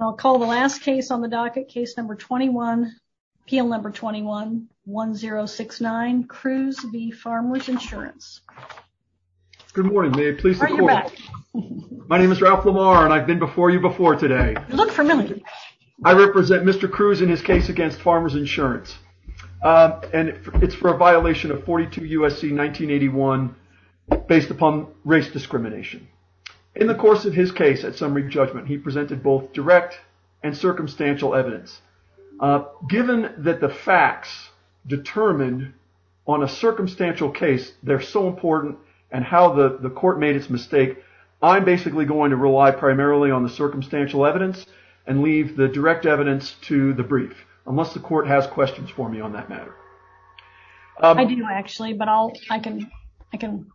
I'll call the last case on the docket, case number 21, appeal number 21-1069, Cruz v. Farmers Insurance. Good morning, may I please? My name is Ralph Lamar and I've been before you before today. You look familiar. I represent Mr. Cruz in his case against Farmers Insurance and it's for a violation of 42 U.S.C. 1981 based upon race discrimination. In the course of his case at summary judgment he presented both direct and circumstantial evidence. Given that the facts determined on a circumstantial case they're so important and how the the court made its mistake I'm basically going to rely primarily on the circumstantial evidence and leave the direct evidence to the brief unless the court has questions for me on that matter. I do actually but I can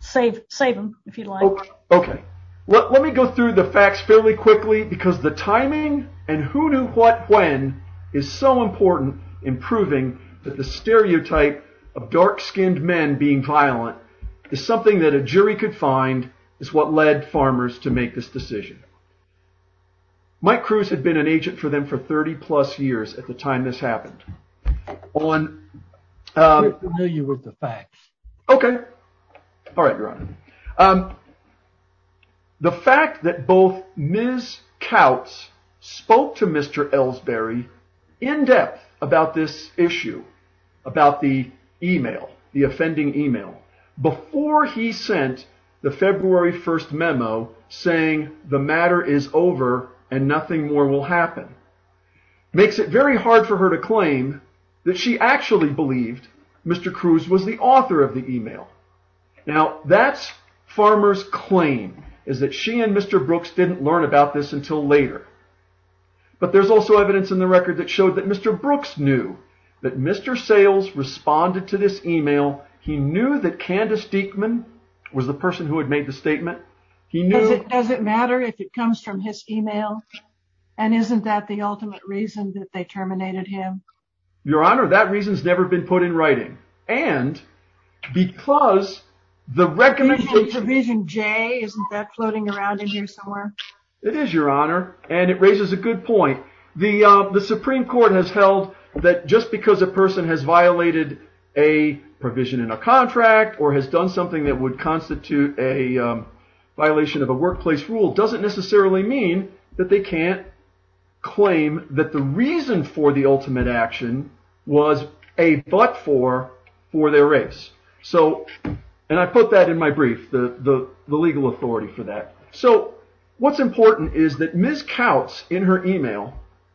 save them if you'd like. Okay, let me go through the facts fairly quickly because the timing and who knew what when is so important in proving that the stereotype of dark-skinned men being violent is something that a jury could find is what led farmers to make this decision. Mike Cruz had been an agent for them for 30 plus years at the time this happened. We're familiar with the facts. Okay, all right your honor. The fact that both Ms. Kautz spoke to Mr. Elsberry in depth about this issue about the email the offending email before he sent the February 1st memo saying the matter is over and nothing more will happen makes it very hard for her to claim that she actually believed Mr. Cruz was the author of the email. Now that's farmer's claim is that she and Mr. Brooks didn't learn about this until later but there's also evidence in the record that showed that Mr. Brooks knew that Mr. Sales responded to this email. He knew that Candace Diekman was the person who had made the statement. Does it matter if it comes from his email and isn't that the ultimate reason that they terminated him? Your honor that reason's never been put in writing and because the recommendation provision J isn't that floating around in here somewhere? It is your honor and it raises a good point. The supreme court has held that just because a person has violated a provision in a contract or has done something that would constitute a violation of a workplace rule doesn't necessarily mean that they can't claim that the reason for the ultimate action was a but for their race. And I put that in my brief the legal authority for that. So what's important is that Ms. Kautz in her email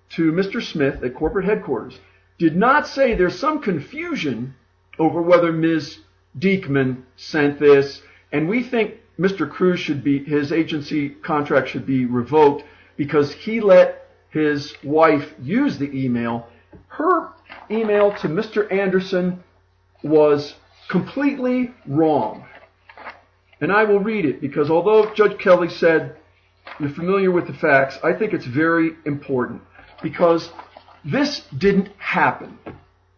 to Mr. Smith at corporate headquarters did not say there's some confusion over whether Ms. Diekman sent this and we think Mr. Cruz should be his agency contract should be revoked because he let his wife use the email. Her email to Mr. Anderson was completely wrong and I will read it because although Judge Kelly said you're familiar with the facts I think it's very important because this didn't happen.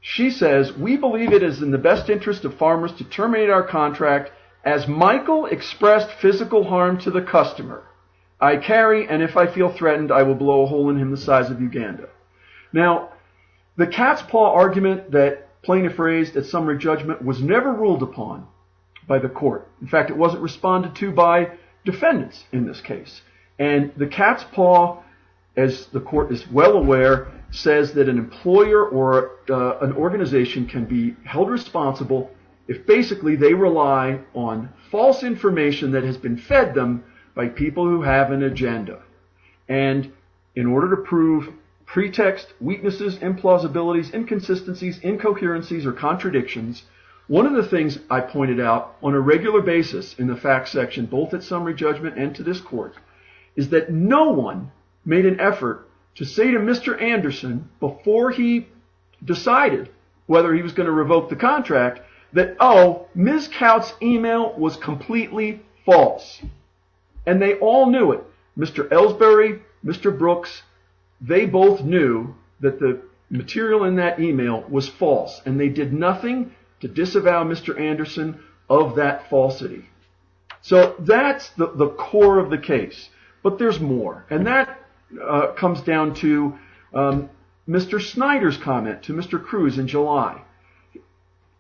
She says we believe it is in the best interest of farmers to terminate our contract as Michael expressed physical harm to the customer. I carry and if I feel threatened I will blow a hole in him the size of Uganda. Now the cat's paw argument that plaintiff raised at summary judgment was never ruled upon by the court. In fact it wasn't responded to by defendants in this case and the an organization can be held responsible if basically they rely on false information that has been fed them by people who have an agenda and in order to prove pretext weaknesses implausibilities inconsistencies incoherencies or contradictions one of the things I pointed out on a regular basis in the fact section both at summary judgment and to this court is that no one made an effort to say to Mr. Anderson before he decided whether he was going to revoke the contract that oh Ms. Coutts email was completely false and they all knew it Mr. Ellsbury Mr. Brooks they both knew that the material in that email was false and they did nothing to disavow Mr. Anderson of that falsity. So that's the core of the case but there's more and that comes down to Mr. Snyder's comment to Mr. Cruz in July.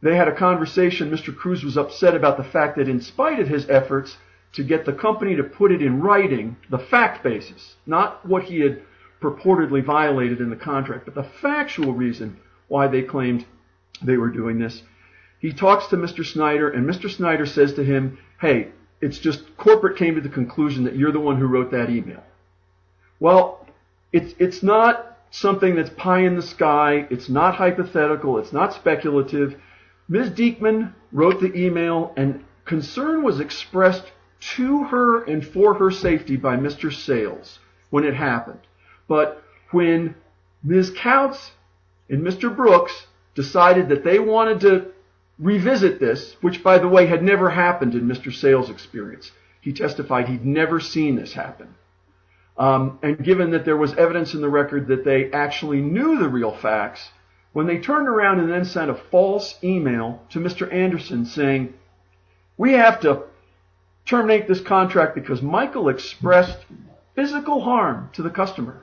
They had a conversation Mr. Cruz was upset about the fact that in spite of his efforts to get the company to put it in writing the fact basis not what he had purportedly violated in the contract but the factual reason why they claimed they were doing this he talks to Mr. Snyder and Mr. Snyder says to him hey it's just corporate came to the conclusion that you're the one who wrote that email. Well it's not something that's pie in the sky it's not hypothetical it's not speculative. Ms. Deakman wrote the email and concern was expressed to her and for her safety by Mr. Sayles when it happened but when Ms. Coutts and Mr. Brooks decided that they wanted to revisit this which by the way had never happened in Mr. Sayles experience he testified he'd never seen this happen and given that there was evidence in the record that they actually knew the real facts when they turned around and then sent a false email to Mr. Anderson saying we have to terminate this contract because Michael expressed physical harm to the customer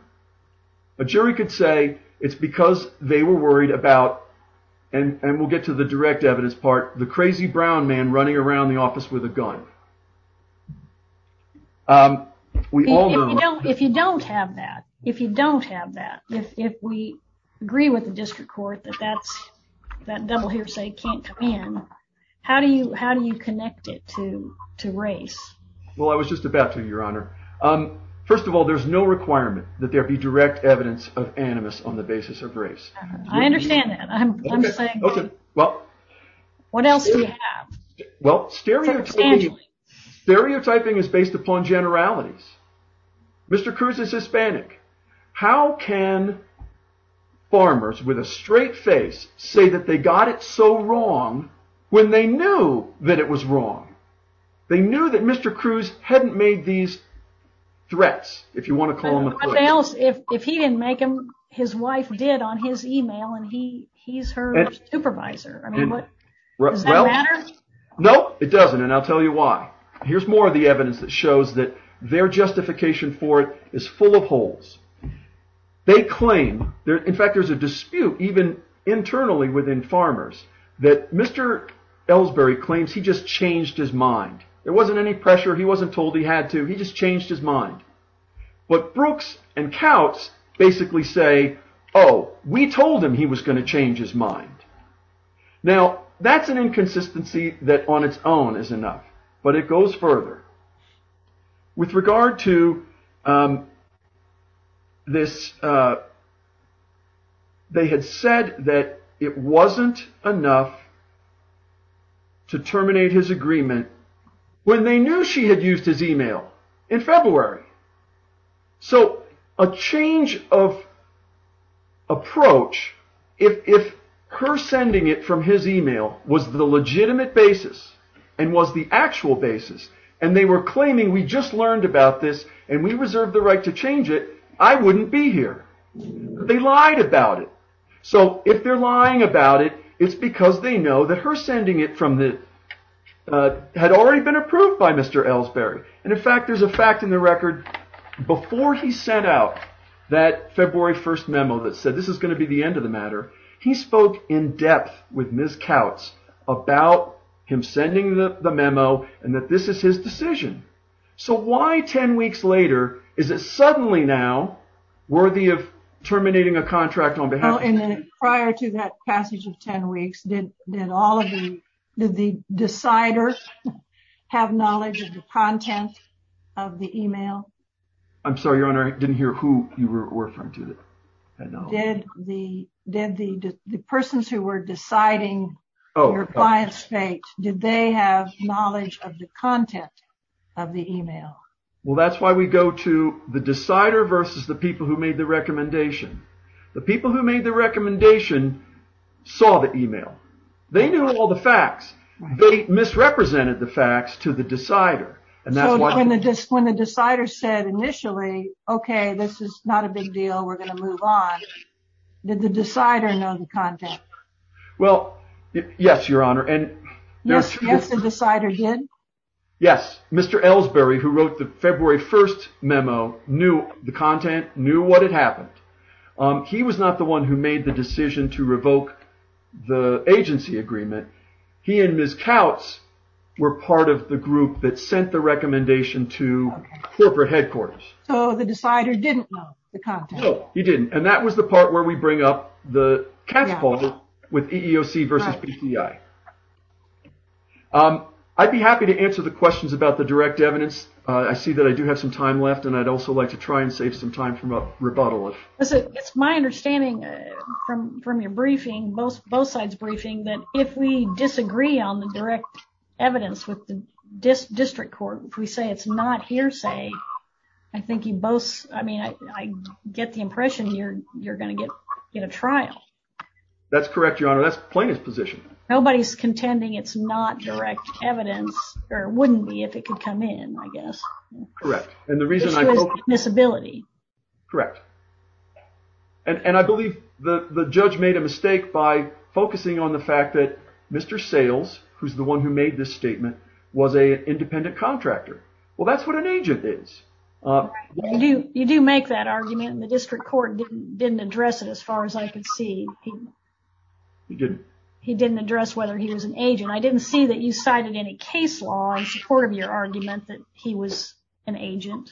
a jury could say it's because they were worried about and and we'll get to the direct evidence part the crazy brown man running around the office with a gun um we all know if you don't have that if you don't have that if if we agree with the district court that that's that double hearsay can't come in how do you how do you connect it to to race well i was just about to your honor um first of all there's no requirement that there be direct evidence of animus on the basis of race i understand that i'm saying okay well what else do you have well stereotype stereotyping is based upon generalities mr cruz is hispanic how can farmers with a straight face say that they got it so wrong when they knew that it was wrong they knew that mr cruz hadn't made these threats if you want to call him what else if if he didn't make him his wife did on his email and he he's her supervisor i mean what does that matter no it doesn't and i'll tell you why here's more of the evidence that shows that their justification for it is full of holes they claim there in fact there's a dispute even internally within farmers that mr ellsbury claims he just changed his mind there wasn't any pressure he wasn't told he had to he just changed his mind but brooks and kautz basically say oh we told him he was going to change his mind now that's an inconsistency that on its own is enough but it goes further with regard to um this uh they had said that it wasn't enough to terminate his agreement when they knew she had used his email in february so a change of approach if if her sending it from his email was the legitimate basis and was the actual basis and they were claiming we just learned about this and we reserved the right to change it i wouldn't be here they lied about it so if they're lying about it it's because they know that her sending it from the uh had already been approved by mr ellsbury and in fact there's a fact in the record before he sent out that february 1st memo that said this is going to be the end he spoke in depth with ms kautz about him sending the the memo and that this is his decision so why 10 weeks later is it suddenly now worthy of terminating a contract on behalf and then prior to that passage of 10 weeks did did all of you did the decider have knowledge of the content of the email i'm sorry your honor didn't hear who you were referring to that i know did the persons who were deciding your client's fate did they have knowledge of the content of the email well that's why we go to the decider versus the people who made the recommendation the people who made the recommendation saw the email they knew all the facts they misrepresented the facts to the decider and that's why when the disc when the decider said initially okay this is not a big deal we're going to move on did the decider know the content well yes your honor and yes yes the decider did yes mr ellsbury who wrote the february 1st memo knew the content knew what had happened he was not the one who made the decision to revoke the agency agreement he and ms kautz were part of the group that sent the recommendation to corporate headquarters so the decider didn't know he didn't and that was the part where we bring up the catapult with eeoc versus bti um i'd be happy to answer the questions about the direct evidence i see that i do have some time left and i'd also like to try and save some time from a rebuttal it's my understanding from from your briefing both both sides briefing that if we disagree on the direct evidence with this district court if we say it's not hearsay i think you both i mean i i get the impression you're you're going to get get a trial that's correct your honor that's plaintiff's position nobody's contending it's not direct evidence or wouldn't be if it could come in i guess correct and the reason i miss ability correct and and i believe the the judge made a mistake by was a independent contractor well that's what an agent is uh you do you do make that argument and the district court didn't address it as far as i could see he didn't he didn't address whether he was an agent i didn't see that you cited any case law in support of your argument that he was an agent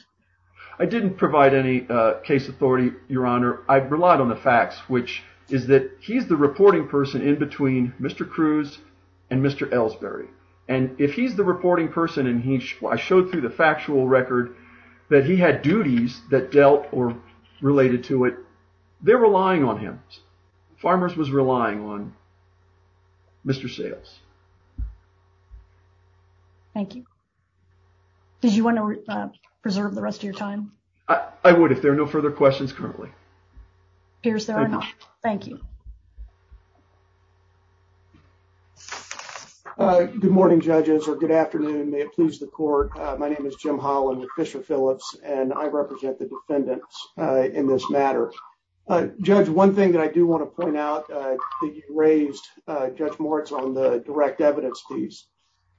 i didn't provide any uh case authority your honor i relied on the facts which is that he's the reporting person in between mr cruz and mr elsberry and if he's the reporting person and he i showed through the factual record that he had duties that dealt or related to it they're relying on him farmers was relying on mr sales thank you did you want to preserve the rest of your time i i would if there are no further questions currently here's their own thank you good morning judges or good afternoon may it please the court my name is jim holland with fisher phillips and i represent the defendants uh in this matter uh judge one thing that i do want to point out uh that you raised uh judge moritz on the direct evidence fees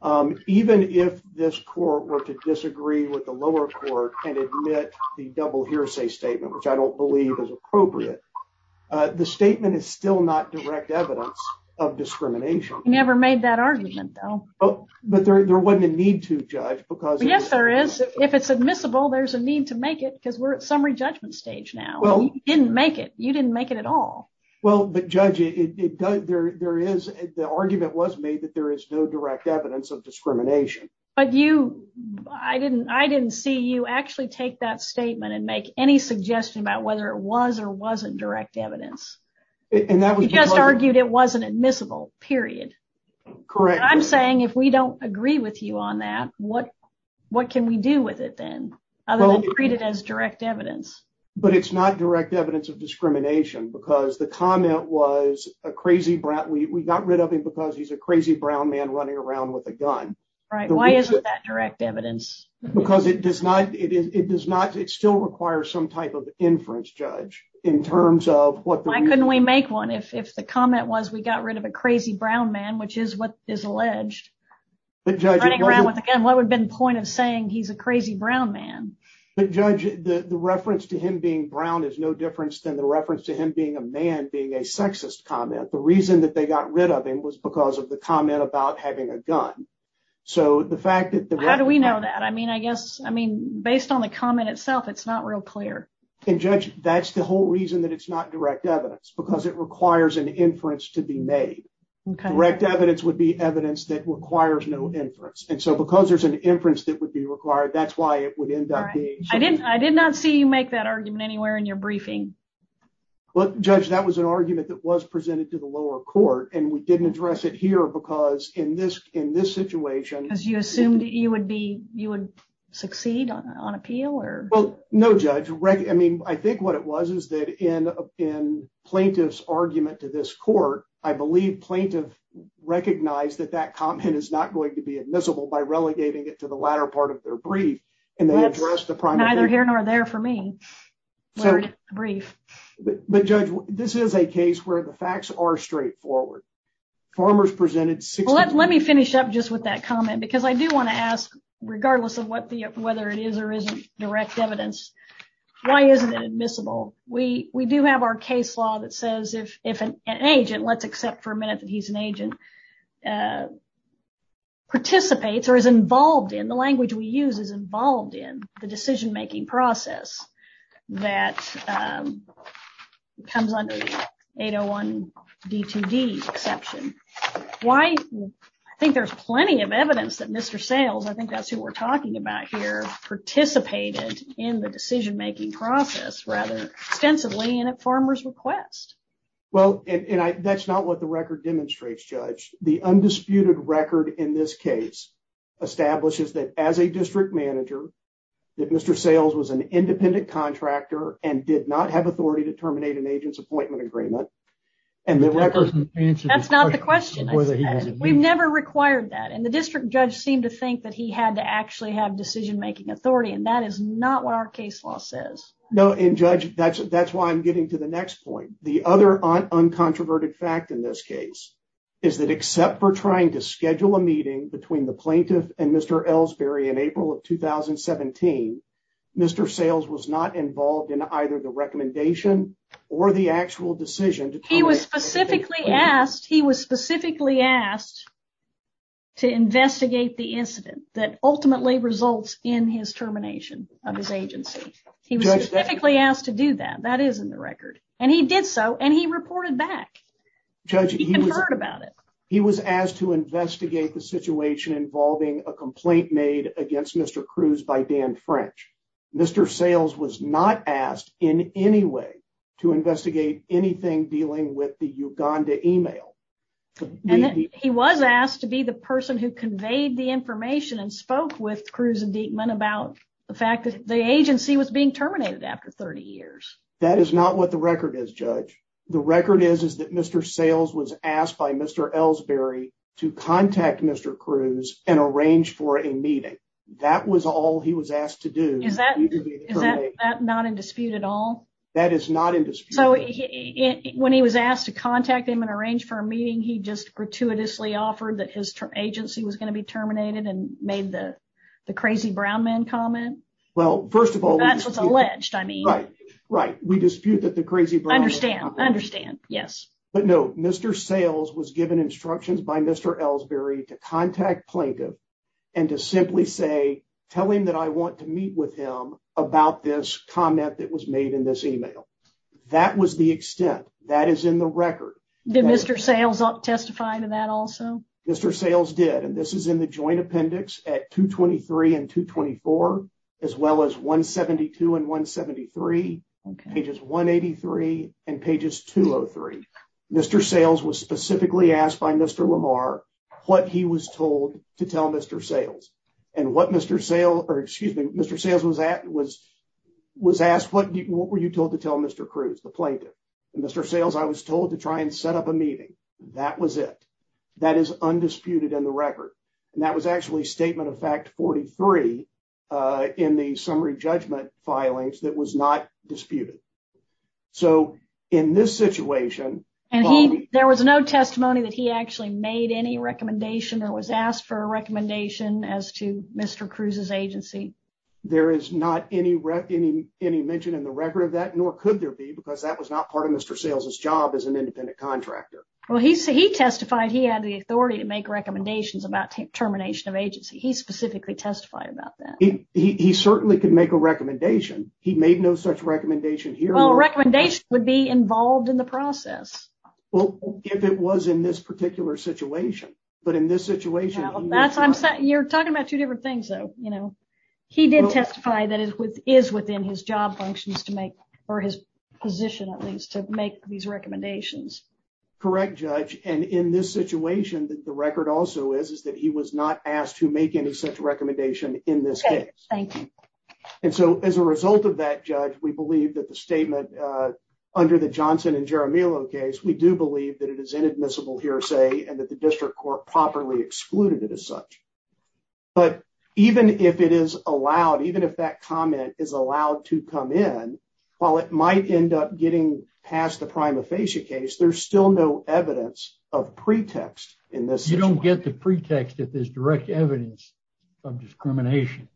um even if this court were to disagree with the lower court and admit the double hearsay statement which i don't believe is appropriate uh the statement is still not direct evidence of discrimination never made that argument though oh but there wasn't a need to judge because yes there is if it's admissible there's a need to make it because we're at summary judgment stage now well you didn't make it you didn't make it at all well but judge it does there there is the argument was made that there is no direct evidence of discrimination but you i didn't i didn't see you actually take that statement and make any suggestion about whether it was or wasn't direct evidence and that was just argued it wasn't admissible period correct i'm saying if we don't agree with you on that what what can we do with it then other than treat it as direct evidence but it's not direct evidence of discrimination because the comment was a crazy brat we got rid of him because he's a crazy brown man running around with a gun right why isn't that direct evidence because it does not it is it does not it still requires some type of inference judge in terms of what why couldn't we make one if if the comment was we got rid of a crazy brown man which is what is alleged but judging around with again what would have been the point of saying he's a crazy brown man but judge the the reference to him being brown is no difference than the was because of the comment about having a gun so the fact that how do we know that i mean i guess i mean based on the comment itself it's not real clear and judge that's the whole reason that it's not direct evidence because it requires an inference to be made okay direct evidence would be evidence that requires no inference and so because there's an inference that would be required that's why it would end up being i didn't i did not see you make that argument anywhere in your didn't address it here because in this in this situation because you assumed you would be you would succeed on appeal or well no judge i mean i think what it was is that in in plaintiff's argument to this court i believe plaintiff recognized that that comment is not going to be admissible by relegating it to the latter part of their brief and they addressed the prime neither here nor there for me sorry brief but judge this is a case where the facts are straightforward farmers presented six let me finish up just with that comment because i do want to ask regardless of what the whether it is or isn't direct evidence why isn't it admissible we we do have our case law that says if if an agent let's accept for a minute that he's an agent participates or is involved in the language we use is involved in the decision making process that comes under 801 d2d exception why i think there's plenty of evidence that mr sales i think that's who we're talking about here participated in the decision making process rather extensively and at farmer's request well and i that's not what the record demonstrates judge the undisputed record in this case establishes that as a district manager that mr sales was an independent contractor and did not have authority to terminate an agent's appointment agreement and that person answered that's not the question we've never required that and the district judge seemed to think that he had to actually have decision making authority and that is not what our case law says no and judge that's that's why i'm getting to the next point the other uncontroverted fact in this case is that except for trying to schedule a meeting between the plaintiff and mr elsberry in april of 2017 mr sales was not involved in either the recommendation or the actual decision he was specifically asked he was specifically asked to investigate the incident that ultimately results in his termination of his agency he reported back judge he heard about it he was asked to investigate the situation involving a complaint made against mr cruz by dan french mr sales was not asked in any way to investigate anything dealing with the uganda email and he was asked to be the person who conveyed the information and spoke with cruz and deepman about the fact that the agency was being terminated after 30 years that is not what the record is judge the record is is that mr sales was asked by mr elsberry to contact mr cruz and arrange for a meeting that was all he was asked to do is that is that not in dispute at all that is not in dispute so he when he was asked to contact him and arrange for a meeting he just gratuitously offered that his agency was going to be terminated and we dispute that the crazy understand i understand yes but no mr sales was given instructions by mr elsberry to contact plaintiff and to simply say tell him that i want to meet with him about this comment that was made in this email that was the extent that is in the record did mr sales testify to that also mr sales did and this is in the joint appendix at 223 and 224 as well as 172 and 173 pages 183 and pages 203 mr sales was specifically asked by mr lamar what he was told to tell mr sales and what mr sale or excuse me mr sales was at was was asked what were you told to tell mr cruz the plaintiff and mr sales i was told to try and set up a meeting that was it that is undisputed in the record and that was actually statement of fact 43 in the summary judgment filings that was not disputed so in this situation and he there was no testimony that he actually made any recommendation or was asked for a recommendation as to mr cruz's agency there is not any any any mention in the record of that nor could there be because that was not part of mr sales's job as an independent contractor well he said he testified he had the authority to make recommendations about termination of agency he specifically testified about that he he certainly could make a recommendation he made no such recommendation here well recommendation would be involved in the process well if it was in this particular situation but in this situation that's i'm saying you're talking about two different things though you know he did testify that is with is within his job functions to make or his position at least to make these recommendations correct judge and in this situation that the record also is is that he was not asked to make any such recommendation in this case thank you and so as a result of that judge we believe that the statement uh under the johnson and jeremy low case we do believe that it is inadmissible hearsay and that the district court properly excluded it as such but even if it is allowed even if that comment is allowed to come in while it might end up getting past the direct evidence of discrimination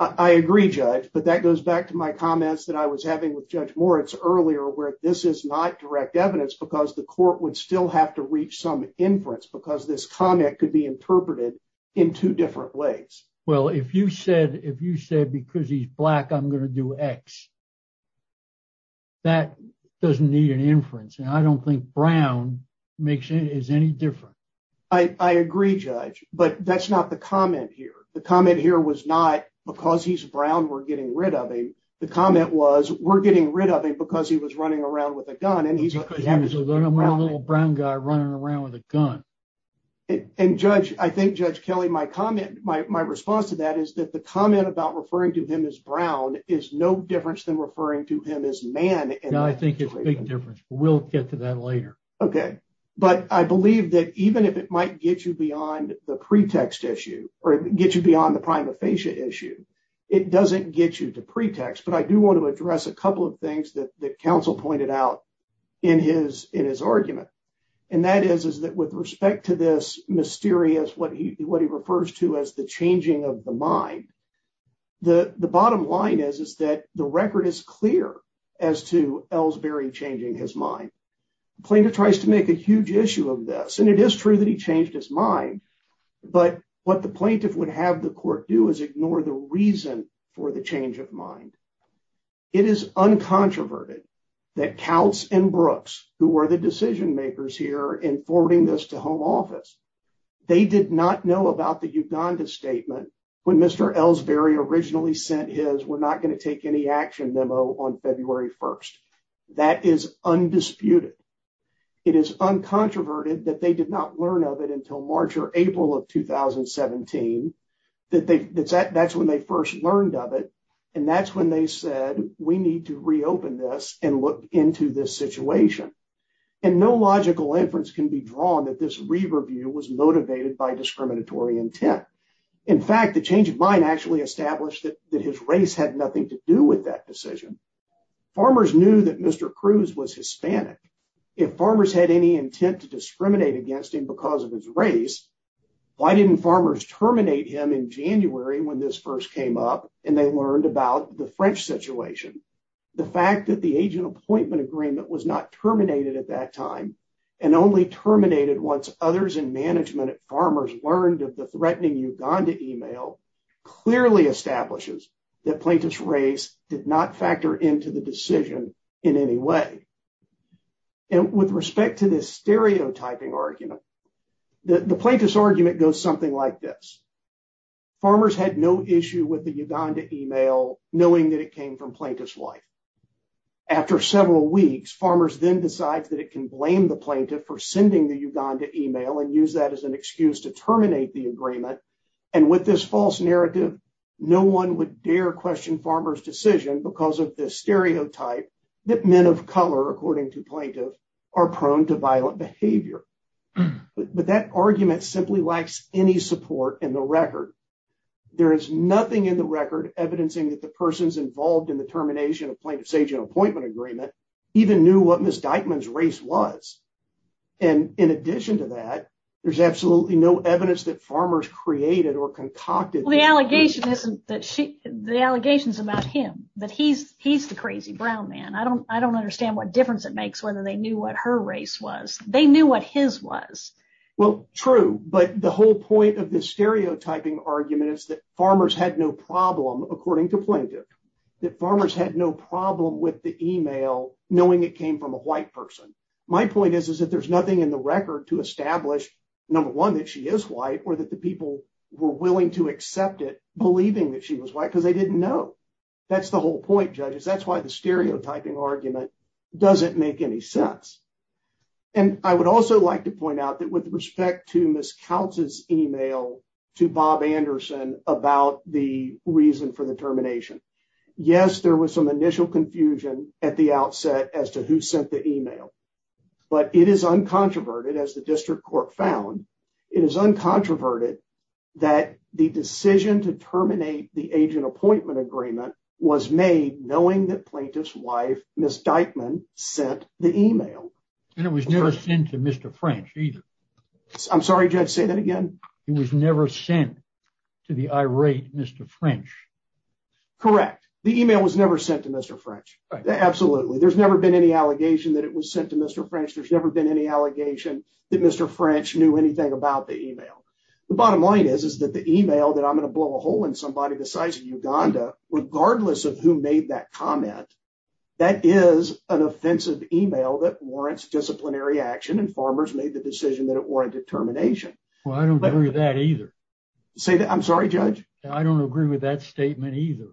i agree judge but that goes back to my comments that i was having with judge moritz earlier where this is not direct evidence because the court would still have to reach some inference because this comment could be interpreted in two different ways well if you said if you said because he's black i'm going to do x that doesn't need an inference and i don't think brown makes any is any different i i agree judge but that's not the comment here the comment here was not because he's brown we're getting rid of him the comment was we're getting rid of him because he was running around with a gun and he's a little brown guy running around with a gun and judge i think judge kelly my comment my response to that is that the comment about referring to him as brown is no difference than referring to him as man and i think it's a big okay but i believe that even if it might get you beyond the pretext issue or get you beyond the prima facie issue it doesn't get you to pretext but i do want to address a couple of things that that counsel pointed out in his in his argument and that is is that with respect to this mysterious what he what he refers to as the changing of the mind the the bottom line is is that the record is plaintiff tries to make a huge issue of this and it is true that he changed his mind but what the plaintiff would have the court do is ignore the reason for the change of mind it is uncontroverted that counts and brooks who are the decision makers here in forwarding this to home office they did not know about the uganda statement when mr elsberry originally sent his not going to take any action memo on february 1st that is undisputed it is uncontroverted that they did not learn of it until march or april of 2017 that they that's that's when they first learned of it and that's when they said we need to reopen this and look into this situation and no logical inference can be drawn that this re-review was motivated by discriminatory intent in fact the change of mind actually established that that his race had nothing to do with that decision farmers knew that mr cruz was hispanic if farmers had any intent to discriminate against him because of his race why didn't farmers terminate him in january when this first came up and they learned about the french situation the fact that the agent appointment agreement was not terminated at that time and only terminated once others in management at farmers learned of the threatening uganda email clearly establishes that plaintiff's race did not factor into the decision in any way and with respect to this stereotyping argument the plaintiff's argument goes something like this farmers had no issue with the uganda email knowing that it came from plaintiff's wife after several weeks farmers then decides that it can blame the plaintiff for sending the uganda email and use that as an excuse to terminate the agreement and with this false narrative no one would dare question farmer's decision because of the stereotype that men of color according to plaintiff are prone to violent behavior but that argument simply lacks any support in the record there is nothing in the record evidencing that the persons involved in the termination of plaintiff's agent appointment agreement even knew what miss dykeman's race was and in addition to that there's absolutely no evidence that farmers created or concocted the allegation isn't that she the allegations about him that he's he's the crazy brown man i don't i don't understand what difference it makes whether they knew what her race was they knew what his was well true but the whole point of this stereotyping argument is that farmers had no problem according to plaintiff that farmers had no problem with the email knowing it came from a white person my point is is that there's nothing in the record to establish number one that she is white or that the people were willing to accept it believing that she was white because they didn't know that's the whole point judges that's why the stereotyping argument doesn't make any sense and i would also like to point out that with respect to miss counts's email to bob anderson about the reason for the termination yes there was some initial confusion at the outset as to who sent the email but it is uncontroverted as the district court found it is uncontroverted that the decision to terminate the agent appointment agreement was made knowing that plaintiff's wife miss dykeman sent the email and it was never sent to mr french either i'm sorry judge say that again he was never sent to the irate mr french correct the email was never sent to mr french absolutely there's never been any allegation that it was sent to mr french there's never been any allegation that mr french knew anything about the email the bottom line is is that the email that i'm going to blow a hole in somebody besides uganda regardless of who made that comment that is an offensive email that warrants disciplinary action and farmers made the decision that it warranted termination well i don't agree with that either say that i'm sorry judge i don't agree with that statement either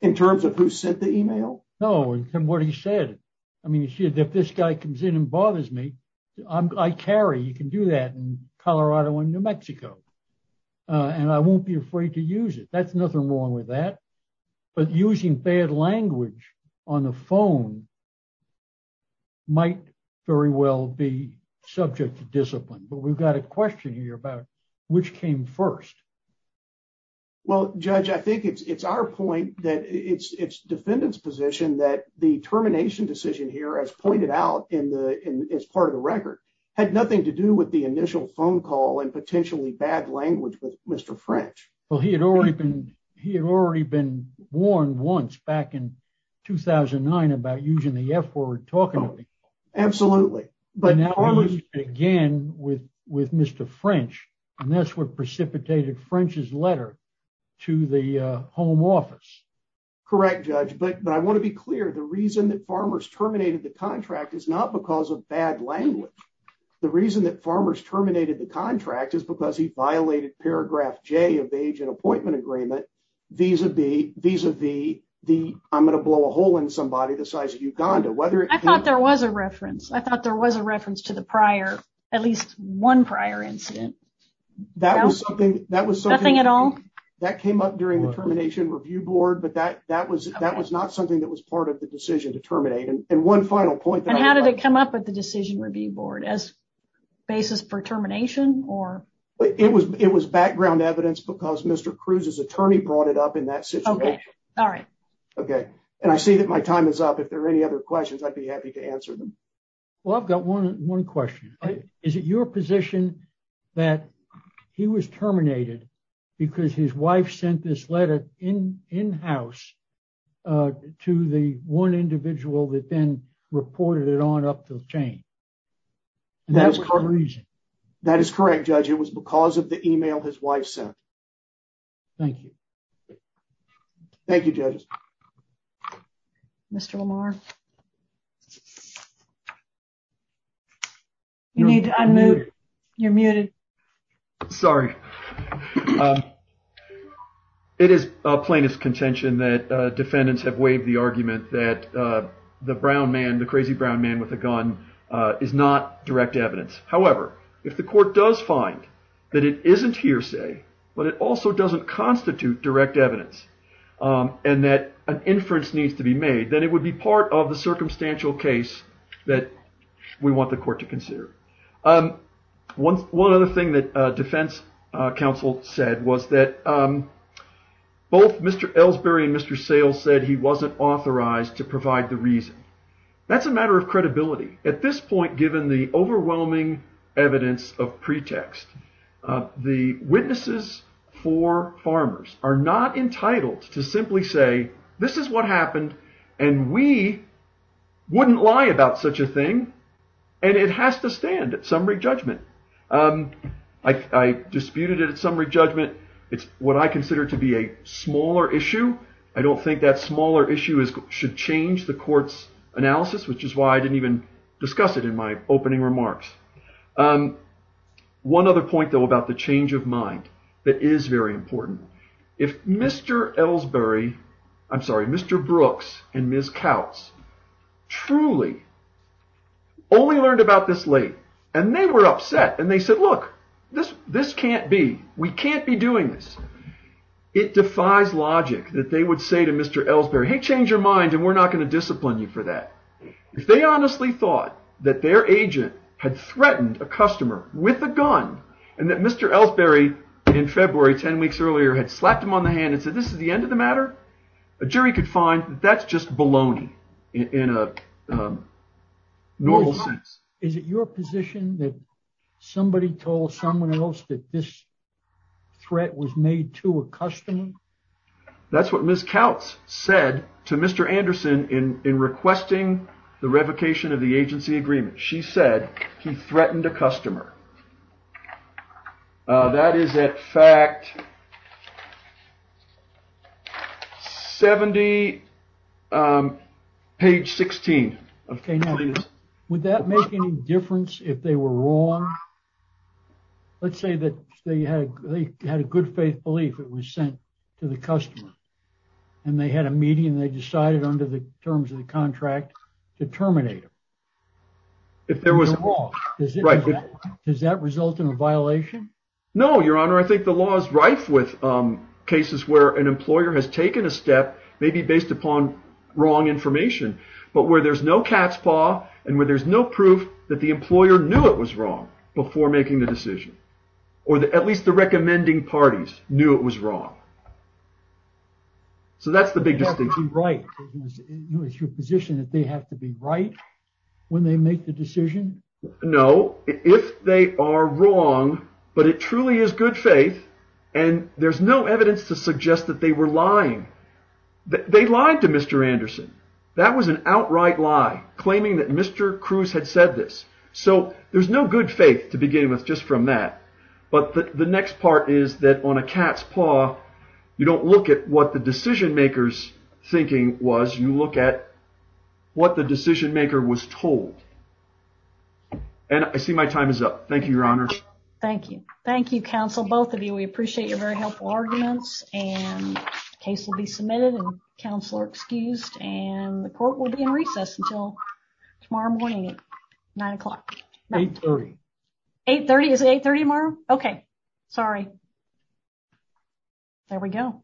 in terms of who sent the email no and what he said i mean if this guy comes in and bothers me i carry you can do that in colorado and new mexico and i won't be afraid to use it that's nothing wrong with that but using bad language on the phone might very well be subject to discipline but we've got a question here about which came first well judge i think it's it's our point that it's it's defendant's position that the termination decision here as pointed out in the in as part of the record had nothing to do with the initial phone call and potentially bad language with mr french well he had already been he had already been warned once back in 2009 about using the f-word talking to me absolutely but now again with with mr french and that's what precipitated french's letter to the home office correct judge but but i want to be clear the reason that farmers terminated the contract is not because of bad language the reason that farmers terminated the contract is because he violated paragraph j of the agent appointment agreement vis-a-vis vis-a-vis the i'm going to blow a hole in somebody the size of uganda whether i thought there was a reference i thought there was a at least one prior incident that was something that was something at all that came up during the termination review board but that that was that was not something that was part of the decision to terminate and one final point and how did it come up with the decision review board as basis for termination or it was it was background evidence because mr cruise's attorney brought it up in that situation all right okay and i see that my time is up if there are any other questions i'd be happy to answer them well i've got one one question is it your position that he was terminated because his wife sent this letter in in-house uh to the one individual that then reported it on up the chain and that's the reason that is correct judge it was because of the email his wife sent thank you thank you judges mr lamar you need to unmute you're muted sorry it is a plaintiff's contention that uh defendants have waived the argument that uh the brown man the crazy brown man with a gun uh is not direct evidence however if the court does find that it isn't hearsay but it also doesn't constitute direct evidence um and that an inference needs to be made then it would be part of the circumstantial case that we want the court to consider um one one other thing that uh defense uh council said was that um both mr elsbury and mr sales said he wasn't authorized to provide the reason that's a matter of credibility at this point given the overwhelming evidence of pretext uh the witnesses for farmers are not entitled to simply say this is what happened and we wouldn't lie about such a thing and it has to stand at summary judgment um i i disputed it at summary judgment it's what i consider to be a smaller issue i don't think that smaller issue is should change the court's analysis which is why i didn't even discuss it in my opening remarks um one other point though about the change of mind that is very important if mr elsbury i'm sorry mr brooks and ms kautz truly only learned about this late and they were upset and they said look this this can't be we can't be doing this it defies logic that they would say to mr elsbury hey change your mind and we're not going to discipline you for if they honestly thought that their agent had threatened a customer with a gun and that mr elsbury in february 10 weeks earlier had slapped him on the hand and said this is the end of the matter a jury could find that's just baloney in a normal sense is it your position that somebody told someone else that this threat was made to a customer that's what ms kautz said to mr anderson in in requesting the revocation of the agency agreement she said he threatened a customer that is at fact 70 um page 16 okay now would that make any difference if they were wrong let's say that they had they had a good faith belief it was sent to the customer and they had a meeting they decided under the terms of the contract to terminate him if there was a law does it right does that result in a violation no your honor i think the law is rife with um cases where an employer has taken a step maybe based upon wrong information but where there's no cat's paw and where there's no proof that the employer knew it was wrong before making the decision or at least the recommending parties knew it was wrong so that's the big distinction right it's your position that they have to be right when they make the decision no if they are wrong but it truly is good faith and there's no evidence to suggest that they were lying they lied to mr anderson that was an outright lie claiming that mr cruz had said this so there's no good faith to begin with just from that but the next part is that on a cat's paw you don't look at what the decision maker's thinking was you look at what the decision maker was told and i see my time is up thank you your honor thank you thank you counsel both of you we appreciate your very helpful arguments and case will be submitted and counselor excused and the court will be in recess until tomorrow morning nine o'clock 8 30 8 30 is 8 30 tomorrow okay sorry there we go